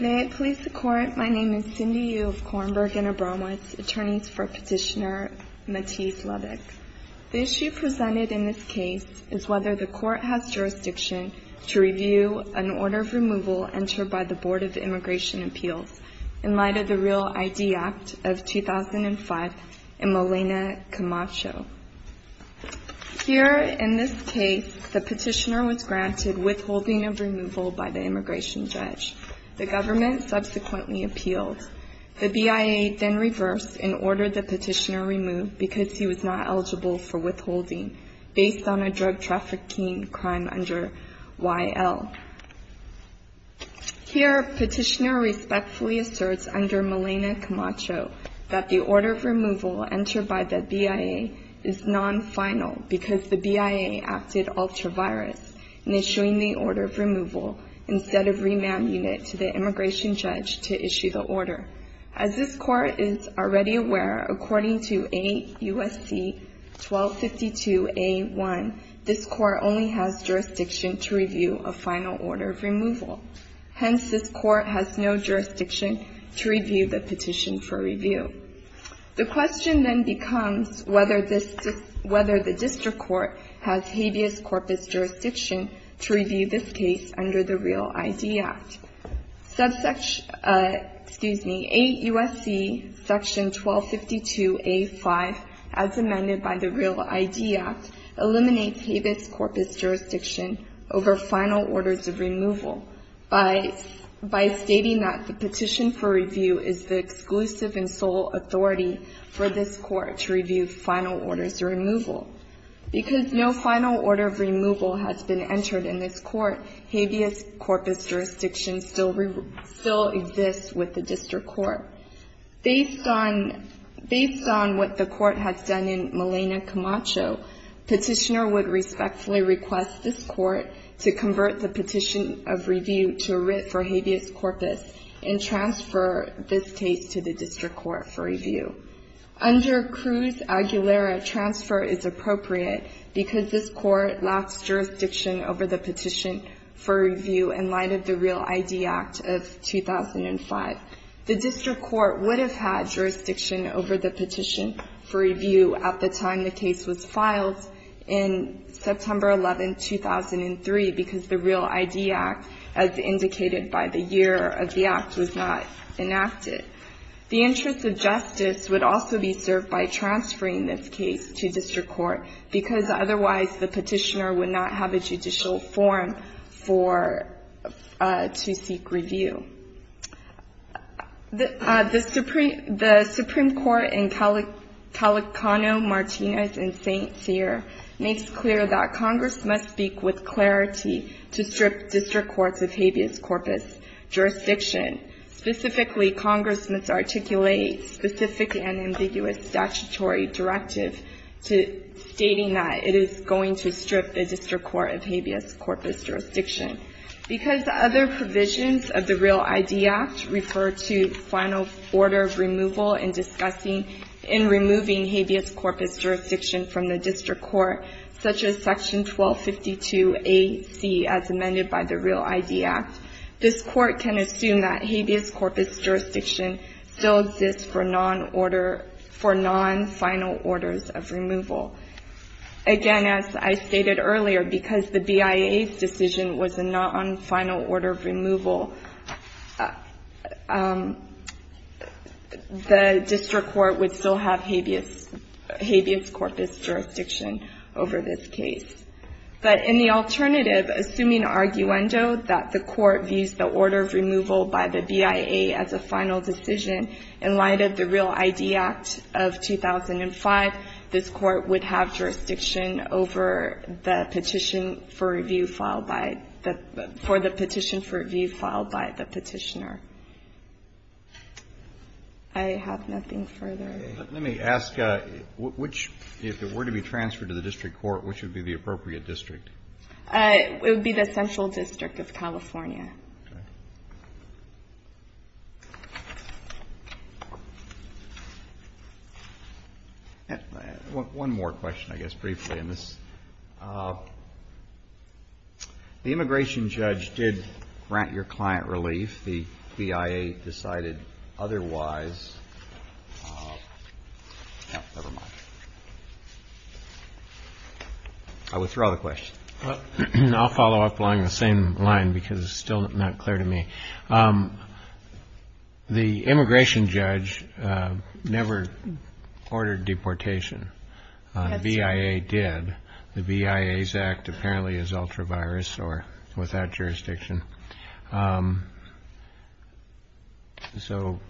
May it please the Court, my name is Cindy Yu of Kornberg and Abramowitz, attorneys for Petitioner Matisse-Levick. The issue presented in this case is whether the Court has jurisdiction to review an order of removal entered by the Board of Immigration Appeals in light of the REAL ID Act of 2005 and Molina Camacho. Here, in this case, the petitioner was granted withholding of removal by the immigration judge. The government subsequently appealed. The BIA then reversed and ordered the petitioner removed because he was not eligible for withholding based on a drug trafficking crime under YL. Here, Petitioner respectfully asserts under Molina Camacho that the order of removal entered by the BIA is non-final because the BIA acted ultra-virus in issuing the order of removal instead of remanding it to the immigration judge to issue the order. As this Court is already aware, according to AUSC 1252A1, this Court only has jurisdiction to review a final order of removal. Hence, this Court has no jurisdiction to review the petition for review. The question then becomes whether the district court has habeas corpus jurisdiction to review this case under the REAL ID Act. AUSC Section 1252A5, as amended by the REAL ID Act, eliminates habeas corpus jurisdiction over final orders of removal by stating that the petition for review is the exclusive and sole authority for this Court to review final orders of removal. Because no final order of removal has been entered in this Court, habeas corpus jurisdiction still exists with the district court. Based on what the Court has done in Molina Camacho, Petitioner would respectfully request this Court to convert the petition of review to a writ for habeas corpus and transfer this case to the district court for review. Under Cruz-Aguilera, transfer is appropriate because this Court lacks jurisdiction over the petition for review in light of the REAL ID Act of 2005. The district court would have had jurisdiction over the petition for review at the time the case was filed in September 11, 2003, because the REAL ID Act, as indicated by the year of the Act, was not enacted. The interest of justice would also be served by transferring this case to district court, because otherwise the petitioner would not have a judicial forum for to seek review. The Supreme Court in Calacano, Martinez, and St. Cyr makes clear that Congress must speak with clarity to strip district courts of habeas corpus jurisdiction. Specifically, Congress must articulate specific and ambiguous statutory directive stating that it is going to strip the district court of habeas corpus jurisdiction. Because other provisions of the REAL ID Act refer to final order of removal in discussing in removing habeas corpus jurisdiction from the district court, such as Section 1252AC as amended by the REAL ID Act, this Court can assume that habeas corpus jurisdiction still exists for non-final orders of removal. Again, as I stated earlier, because the BIA's decision was a non-final order of removal, the district court would still have habeas corpus jurisdiction over this case. But in the alternative, assuming arguendo that the court views the order of removal by the BIA as a final decision in light of the REAL ID Act of 2005, this Court would have jurisdiction over the petition for review filed by the petitioner. I have nothing further. Let me ask which, if it were to be transferred to the district court, which would be the appropriate district? It would be the Central District of California. Okay. One more question, I guess, briefly on this. The immigration judge did grant your client relief. The BIA decided otherwise. Never mind. I withdraw the question. I'll follow up along the same line because it's still not clear to me. The immigration judge never ordered deportation. The BIA did. The BIA's Act apparently is ultra-virus or without jurisdiction. So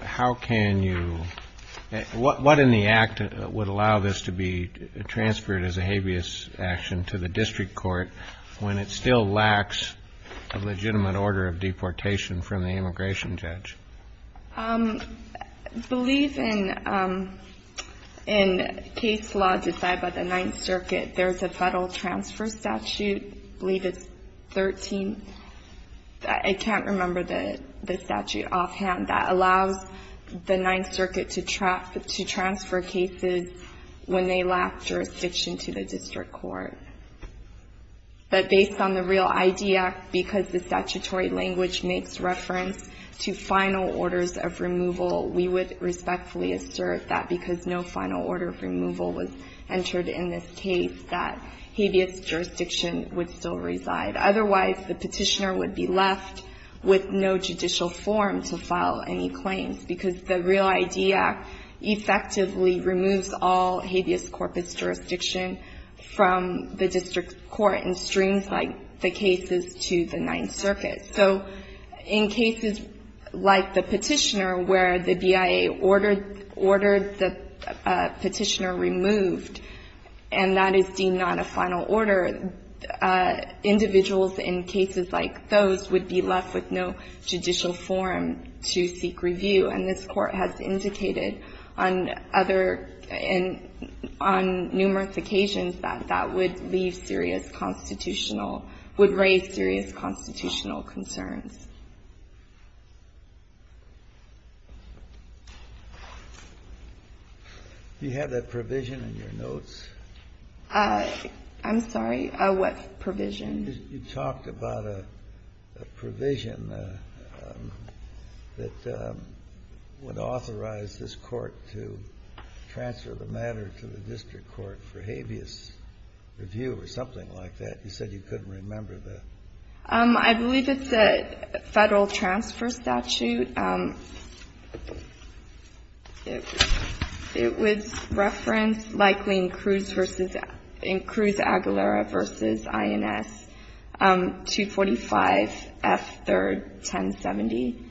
how can you – what in the Act would allow this to be transferred as a habeas action to the district court when it still lacks a legitimate order of deportation from the immigration judge? I believe in case law decided by the Ninth Circuit, there's a federal transfer statute. I believe it's 13. I can't remember the statute offhand. That allows the Ninth Circuit to transfer cases when they lack jurisdiction to the district court. But based on the real ID Act, because the statutory language makes reference to final orders of removal, we would respectfully assert that because no final order of removal was entered in this case, that habeas jurisdiction would still reside. But otherwise, the Petitioner would be left with no judicial form to file any claims because the real ID Act effectively removes all habeas corpus jurisdiction from the district court and streams the cases to the Ninth Circuit. So in cases like the Petitioner where the BIA ordered the Petitioner removed, and that is deemed not a final order, individuals in cases like those would be left with no judicial form to seek review. And this Court has indicated on other – on numerous occasions that that would leave serious constitutional – would raise serious constitutional concerns. Do you have that provision in your notes? I'm sorry? What provision? You talked about a provision that would authorize this Court to transfer the matter to the district court for habeas review or something like that. You said you couldn't remember the – I believe it's a Federal transfer statute. It was referenced likely in Cruz v. – in Cruz-Aguilera v. INS 245F3-1070,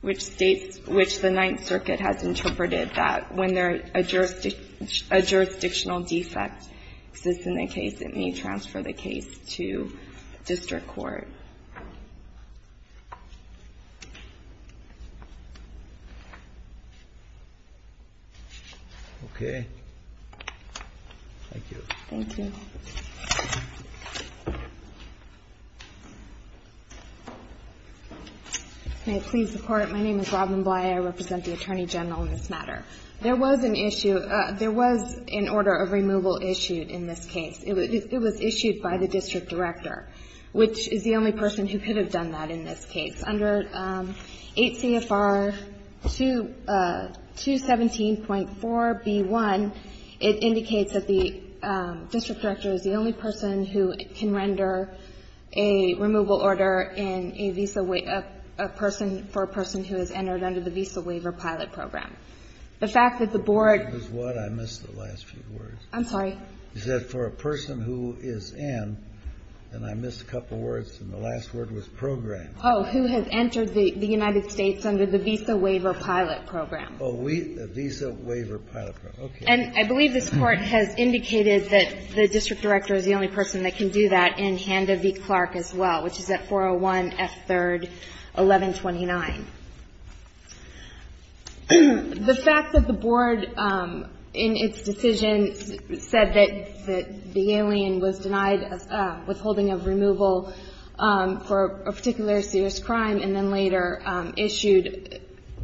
which states – which the Ninth Circuit has interpreted that when there is a jurisdictional defect that exists in the case, it may transfer the case to district court. Okay. Thank you. Thank you. May it please the Court. My name is Robin Bly. I represent the Attorney General in this matter. There was an issue – there was an order of removal issued in this case. It was issued by the district director, which is the only person who could have done that in this case. Under 8 CFR 217.4b1, it indicates that the district director is the only person who can render a removal order in a visa – a person – for a person who has entered under the Visa Waiver Pilot Program. The fact that the board – What was what? I missed the last few words. I'm sorry. You said for a person who is in, and I missed a couple words, and the last word was program. Oh, who has entered the United States under the Visa Waiver Pilot Program. Oh, we – the Visa Waiver Pilot Program. Okay. And I believe this Court has indicated that the district director is the only person that can do that in Handa v. Clark as well, which is at 401F3-1129. The fact that the board, in its decision, said that the alien was denied withholding of removal for a particular serious crime and then later issued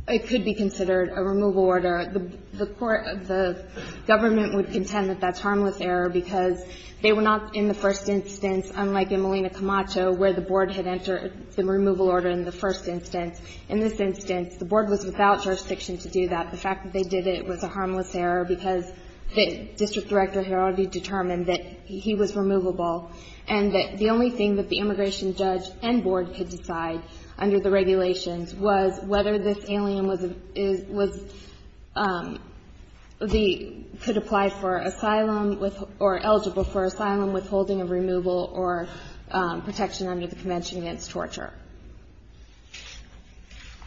what could be considered a removal order, the court – the government would contend that that's harmless error because they were not, in the first instance, unlike in Molina Camacho where the board had entered the removal order in the first instance. In this instance, the board was without jurisdiction to do that. The fact that they did it was a harmless error because the district director had already determined that he was removable and that the only thing that the immigration judge and board could decide under the regulations was whether this alien was – could apply for asylum with – or eligible for asylum withholding of removal or protection under the convention against torture.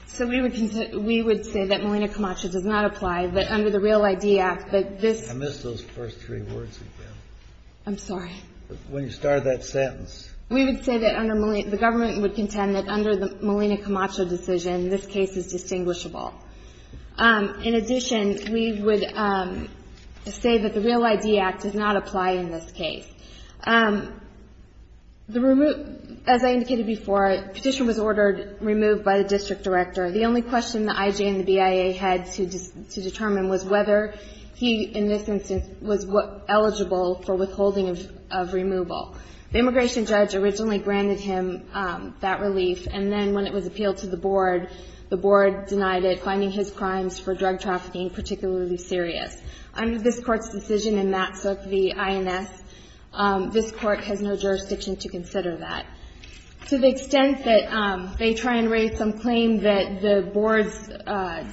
So we would – we would say that Molina Camacho does not apply, that under the Real ID Act, that this – I missed those first three words again. I'm sorry. When you started that sentence. We would say that under – the government would contend that under the Molina Camacho decision, this case is distinguishable. In addition, we would say that the Real ID Act does not apply in this case. The – as I indicated before, the petition was ordered removed by the district director. The only question the IJ and the BIA had to determine was whether he, in this instance, was eligible for withholding of removal. The immigration judge originally granted him that relief, and then when it was appealed to the board, the board denied it, finding his crimes for drug trafficking particularly serious. Under this Court's decision in Matsuk v. INS, this Court has no jurisdiction to consider that. To the extent that they try and raise some claim that the board's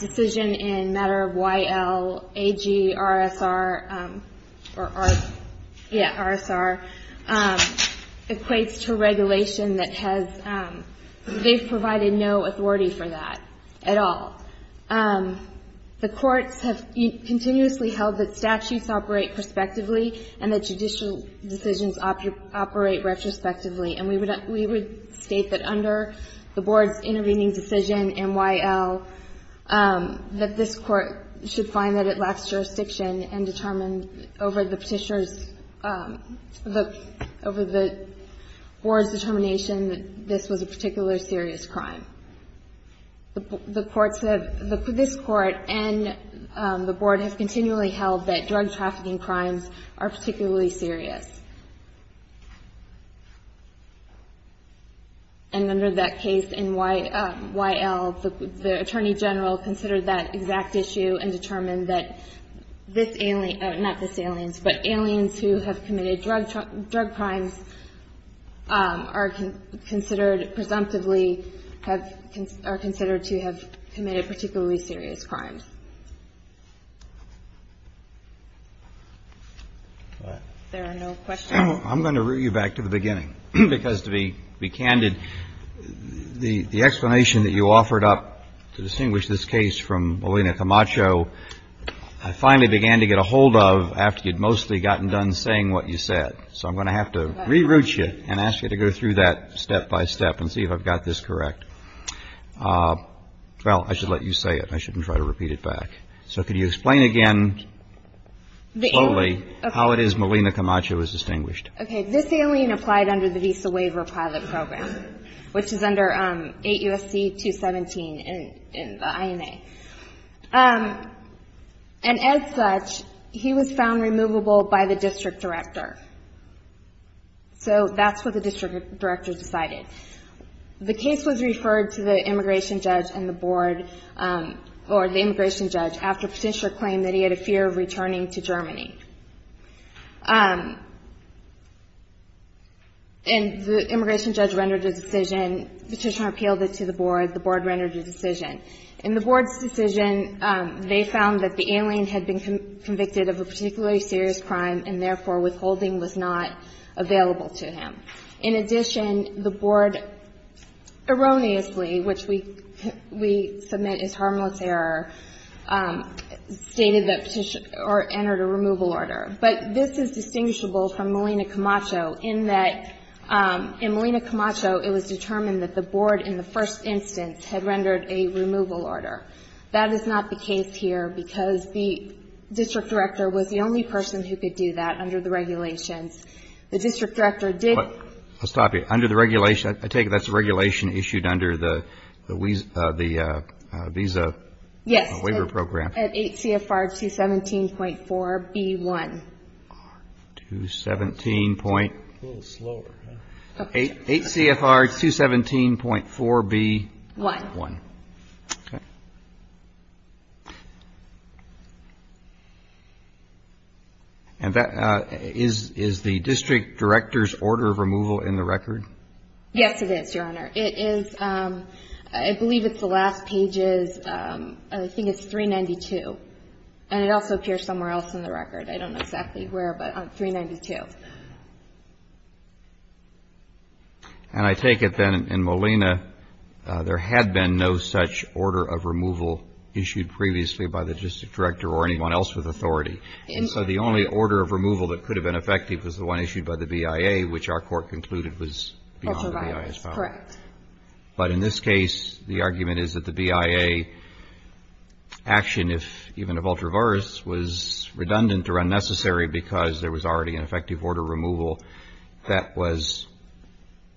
decision in matter Y.L., A.G., R.S.R., or R – yeah, R.S.R., equates to regulation that has – they've provided no authority for that at all. The courts have continuously held that statutes operate prospectively and that judicial decisions operate retrospectively, and we would – we would state that under the board's intervening decision in Y.L. that this Court should find that it lacks jurisdiction and determine over the petitioner's – over the board's determination that this was a particularly serious crime. The courts have – this Court and the board have continually held that drug trafficking crimes are particularly serious. And under that case in Y.L., the Attorney General considered that exact issue and determined that this alien – not this alien, but aliens who have committed drug crimes are considered presumptively have – are considered to have committed particularly serious crimes. There are no questions? I'm going to root you back to the beginning, because to be – to be candid, the explanation that you offered up to distinguish this case from Molina Camacho, I finally began to get a hold of after you'd mostly gotten done saying what you said. So I'm going to have to re-root you and ask you to go through that step by step and see if I've got this correct. Well, I should let you say it. I shouldn't try to repeat it back. So could you explain again, slowly, how it is Molina Camacho is distinguished? Okay. This alien applied under the Visa Waiver Pilot Program, which is under 8 U.S.C. 217 in the INA. And as such, he was found removable by the district director. So that's what the district director decided. The case was referred to the immigration judge and the board – or the immigration judge after Petitioner claimed that he had a fear of returning to Germany. And the immigration judge rendered a decision. Petitioner appealed it to the board. The board rendered a decision. In the board's decision, they found that the alien had been convicted of a particularly serious crime and, therefore, withholding was not available to him. In addition, the board erroneously, which we submit is harmless error, stated that Petitioner entered a removal order. But this is distinguishable from Molina Camacho in that in Molina Camacho, it was determined that the board in the first instance had rendered a removal order. That is not the case here because the district director was the only person who could do that under the regulations. The district director did – I'll stop you. Under the regulation – I take it that's a regulation issued under the Visa Waiver Program. Yes. At 8 CFR 217.4 B1. 217 point – A little slower. 8 CFR 217.4 B1. B1. Okay. And that – is the district director's order of removal in the record? Yes, it is, Your Honor. It is – I believe it's the last page is – I think it's 392. And it also appears somewhere else in the record. I don't know exactly where, but 392. And I take it then in Molina, there had been no such order of removal issued previously by the district director or anyone else with authority. And so the only order of removal that could have been effective was the one issued by the BIA, which our court concluded was beyond the BIA's power. Correct. But in this case, the argument is that the BIA action, if even of ultraverse, was redundant or unnecessary because there was already an effective order of removal that was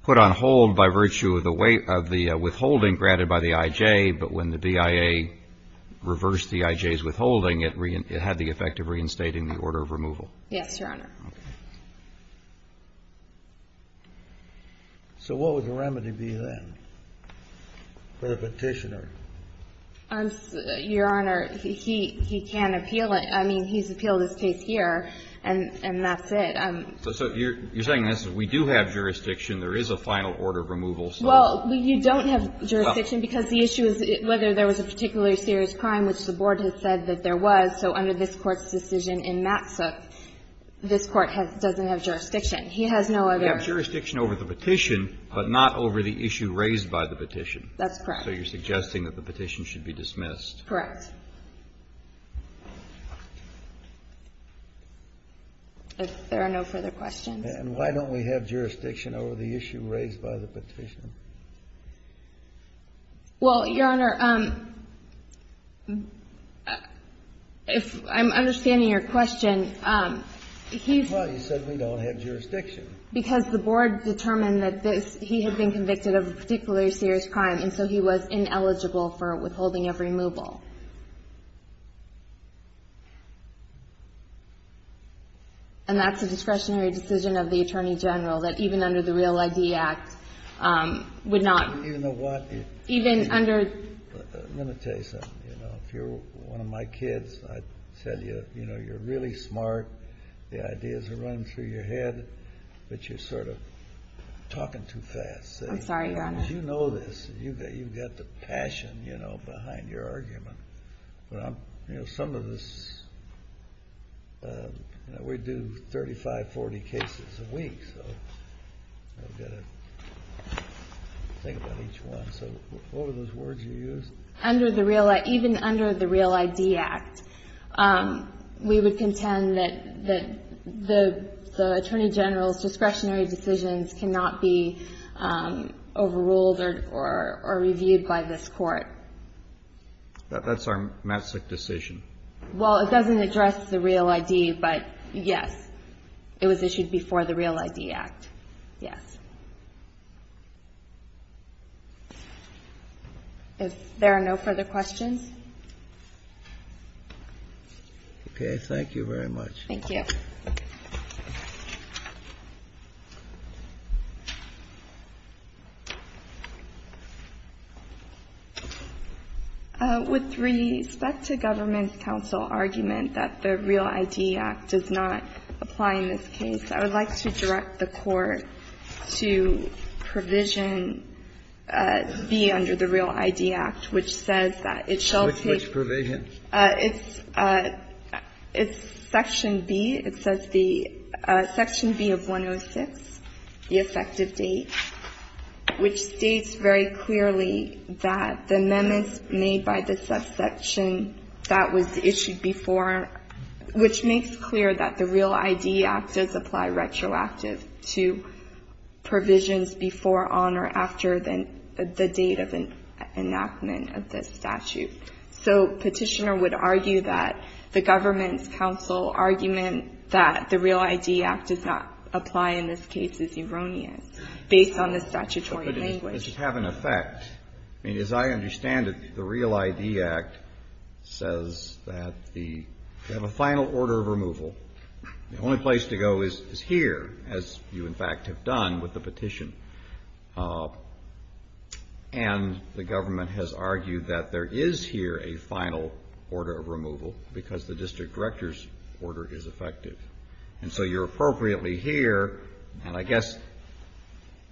put on hold by virtue of the withholding granted by the IJ, but when the BIA reversed the IJ's withholding, it had the effect of reinstating the order of removal. Yes, Your Honor. Okay. So what would the remedy be then for the petitioner? Your Honor, he can appeal it. I mean, he's appealed his case here, and that's it. So you're saying we do have jurisdiction. There is a final order of removal. Well, you don't have jurisdiction because the issue is whether there was a particularly serious crime, which the Board had said that there was. So under this Court's decision in Matsook, this Court doesn't have jurisdiction. He has no other – He has jurisdiction over the petition, but not over the issue raised by the petition. That's correct. So you're suggesting that the petition should be dismissed. Correct. If there are no further questions. And why don't we have jurisdiction over the issue raised by the petition? Well, Your Honor, if – I'm understanding your question. Why? You said we don't have jurisdiction. Because the Board determined that this – he had been convicted of a particularly serious crime, and so he was ineligible for withholding of removal. And that's a discretionary decision of the Attorney General that even under the Real ID Act would not – Even the what? Even under – Let me tell you something. You know, if you're one of my kids, I'd tell you, you know, you're really smart. The ideas are running through your head, but you're sort of talking too fast. I'm sorry, Your Honor. Because you know this. You've got the passion, you know, behind your argument. But I'm – you know, some of this – we do 35, 40 cases a week, so I've got to think about each one. So what were those words you used? Under the Real – even under the Real ID Act, we would contend that the Attorney General's or reviewed by this Court. That's our massive decision. Well, it doesn't address the Real ID, but, yes, it was issued before the Real ID Act. Yes. If there are no further questions. Okay. Thank you very much. Thank you. With respect to Government's counsel argument that the Real ID Act does not apply in this case, I would like to direct the Court to provision B under the Real ID Act, which says that it shall take – Which provision? It's Section B. It says the – Section B of 106, the effective date, which states very clearly that the amendments made by the subsection that was issued before, which makes clear that the Real ID Act does apply retroactive to provisions before, on, or after the date of enactment of this statute. So, Petitioner would argue that the Government's counsel argument that the Real ID Act does not apply in this case is erroneous, based on the statutory language. But does it have an effect? I mean, as I understand it, the Real ID Act says that the – you have a final order of removal. The only place to go is here, as you, in fact, have done with the petition. And the Government has argued that there is here a final order of removal, because the district director's order is effective. And so you're appropriately here, and I guess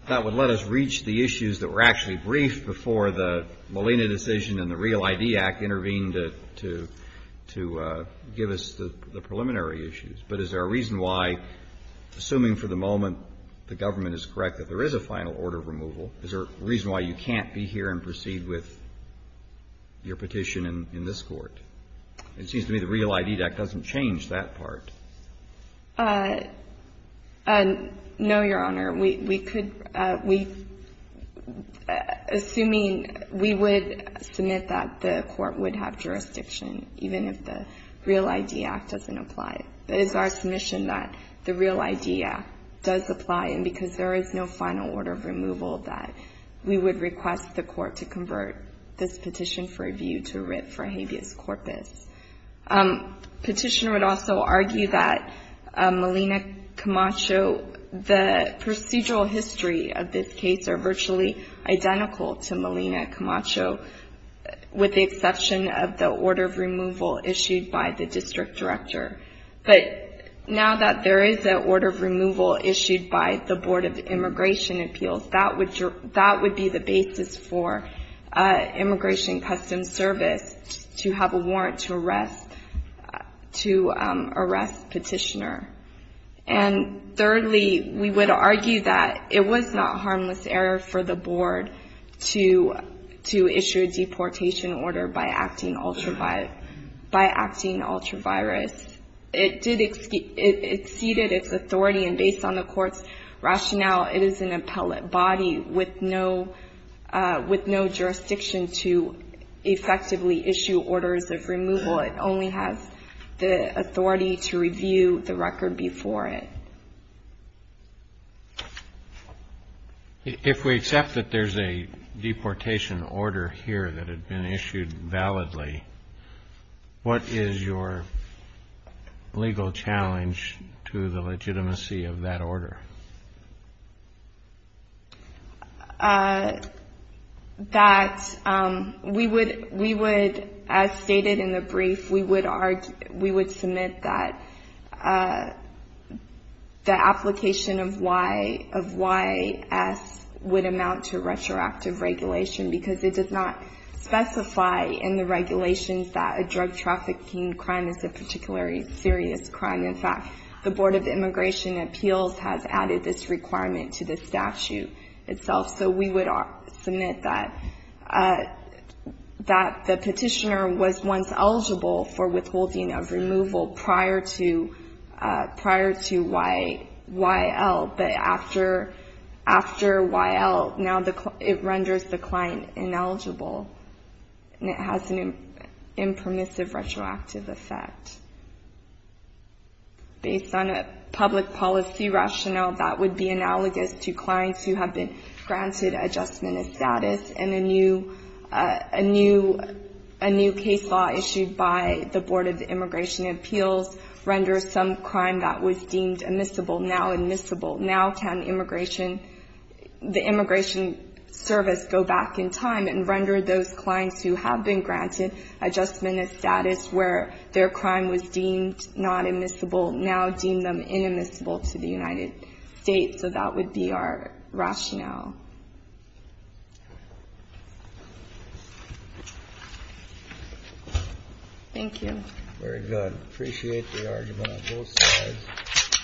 that would let us reach the issues that were actually briefed before the Molina decision and the Real ID Act intervened to give us the preliminary issues. But is there a reason why, assuming for the moment the Government is correct that there is a final order of removal, is there a reason why you can't be here and proceed with your petition in this Court? It seems to me the Real ID Act doesn't change that part. No, Your Honor. We could – we – assuming we would submit that, the Court would have jurisdiction, even if the Real ID Act doesn't apply. But it's our submission that the Real ID Act does apply, and because there is no final order of removal, that we would request the Court to convert this petition for review to writ for habeas corpus. Petitioner would also argue that Molina Camacho – the procedural history of this case are virtually identical to Molina Camacho, with the exception of the order of removal issued by the District Director. But now that there is an order of removal issued by the Board of Immigration Appeals, that would be the basis for Immigration Customs Service to have a warrant to arrest Petitioner. And thirdly, we would argue that it was not harmless error for the Board to – to issue a deportation order by acting ultra – by acting ultra-virus. It did – it exceeded its authority, and based on the Court's rationale, it is an appellate body with no – with no jurisdiction to effectively issue orders of removal. It only has the authority to review the record before it. If we accept that there's a deportation order here that had been issued validly, what is your legal challenge to the legitimacy of that order? That we would – we would, as stated in the brief, we would – we would submit that the application of Y – of YS would amount to retroactive regulation, because it does not specify in the regulations that a drug trafficking crime is a particularly serious crime. In fact, the Board of Immigration Appeals has added this requirement to the statute itself. So we would submit that – that the Petitioner was once eligible for withholding of removal prior to – prior to Y – YL, but after – after YL, now the – it renders the client ineligible, and it has an impermissive retroactive effect. Based on a public policy rationale, that would be analogous to clients who have been granted adjustment of status, and a new – a new – a new case law issued by the Board of Immigration Appeals renders some crime that was deemed immiscible now admissible. Now can immigration – the immigration service go back in time and render those clients who have been granted adjustment of status where their crime was deemed not admissible now deem them inadmissible to the United States. So that would be our rationale. Thank you. Very good. Appreciate the argument on both sides.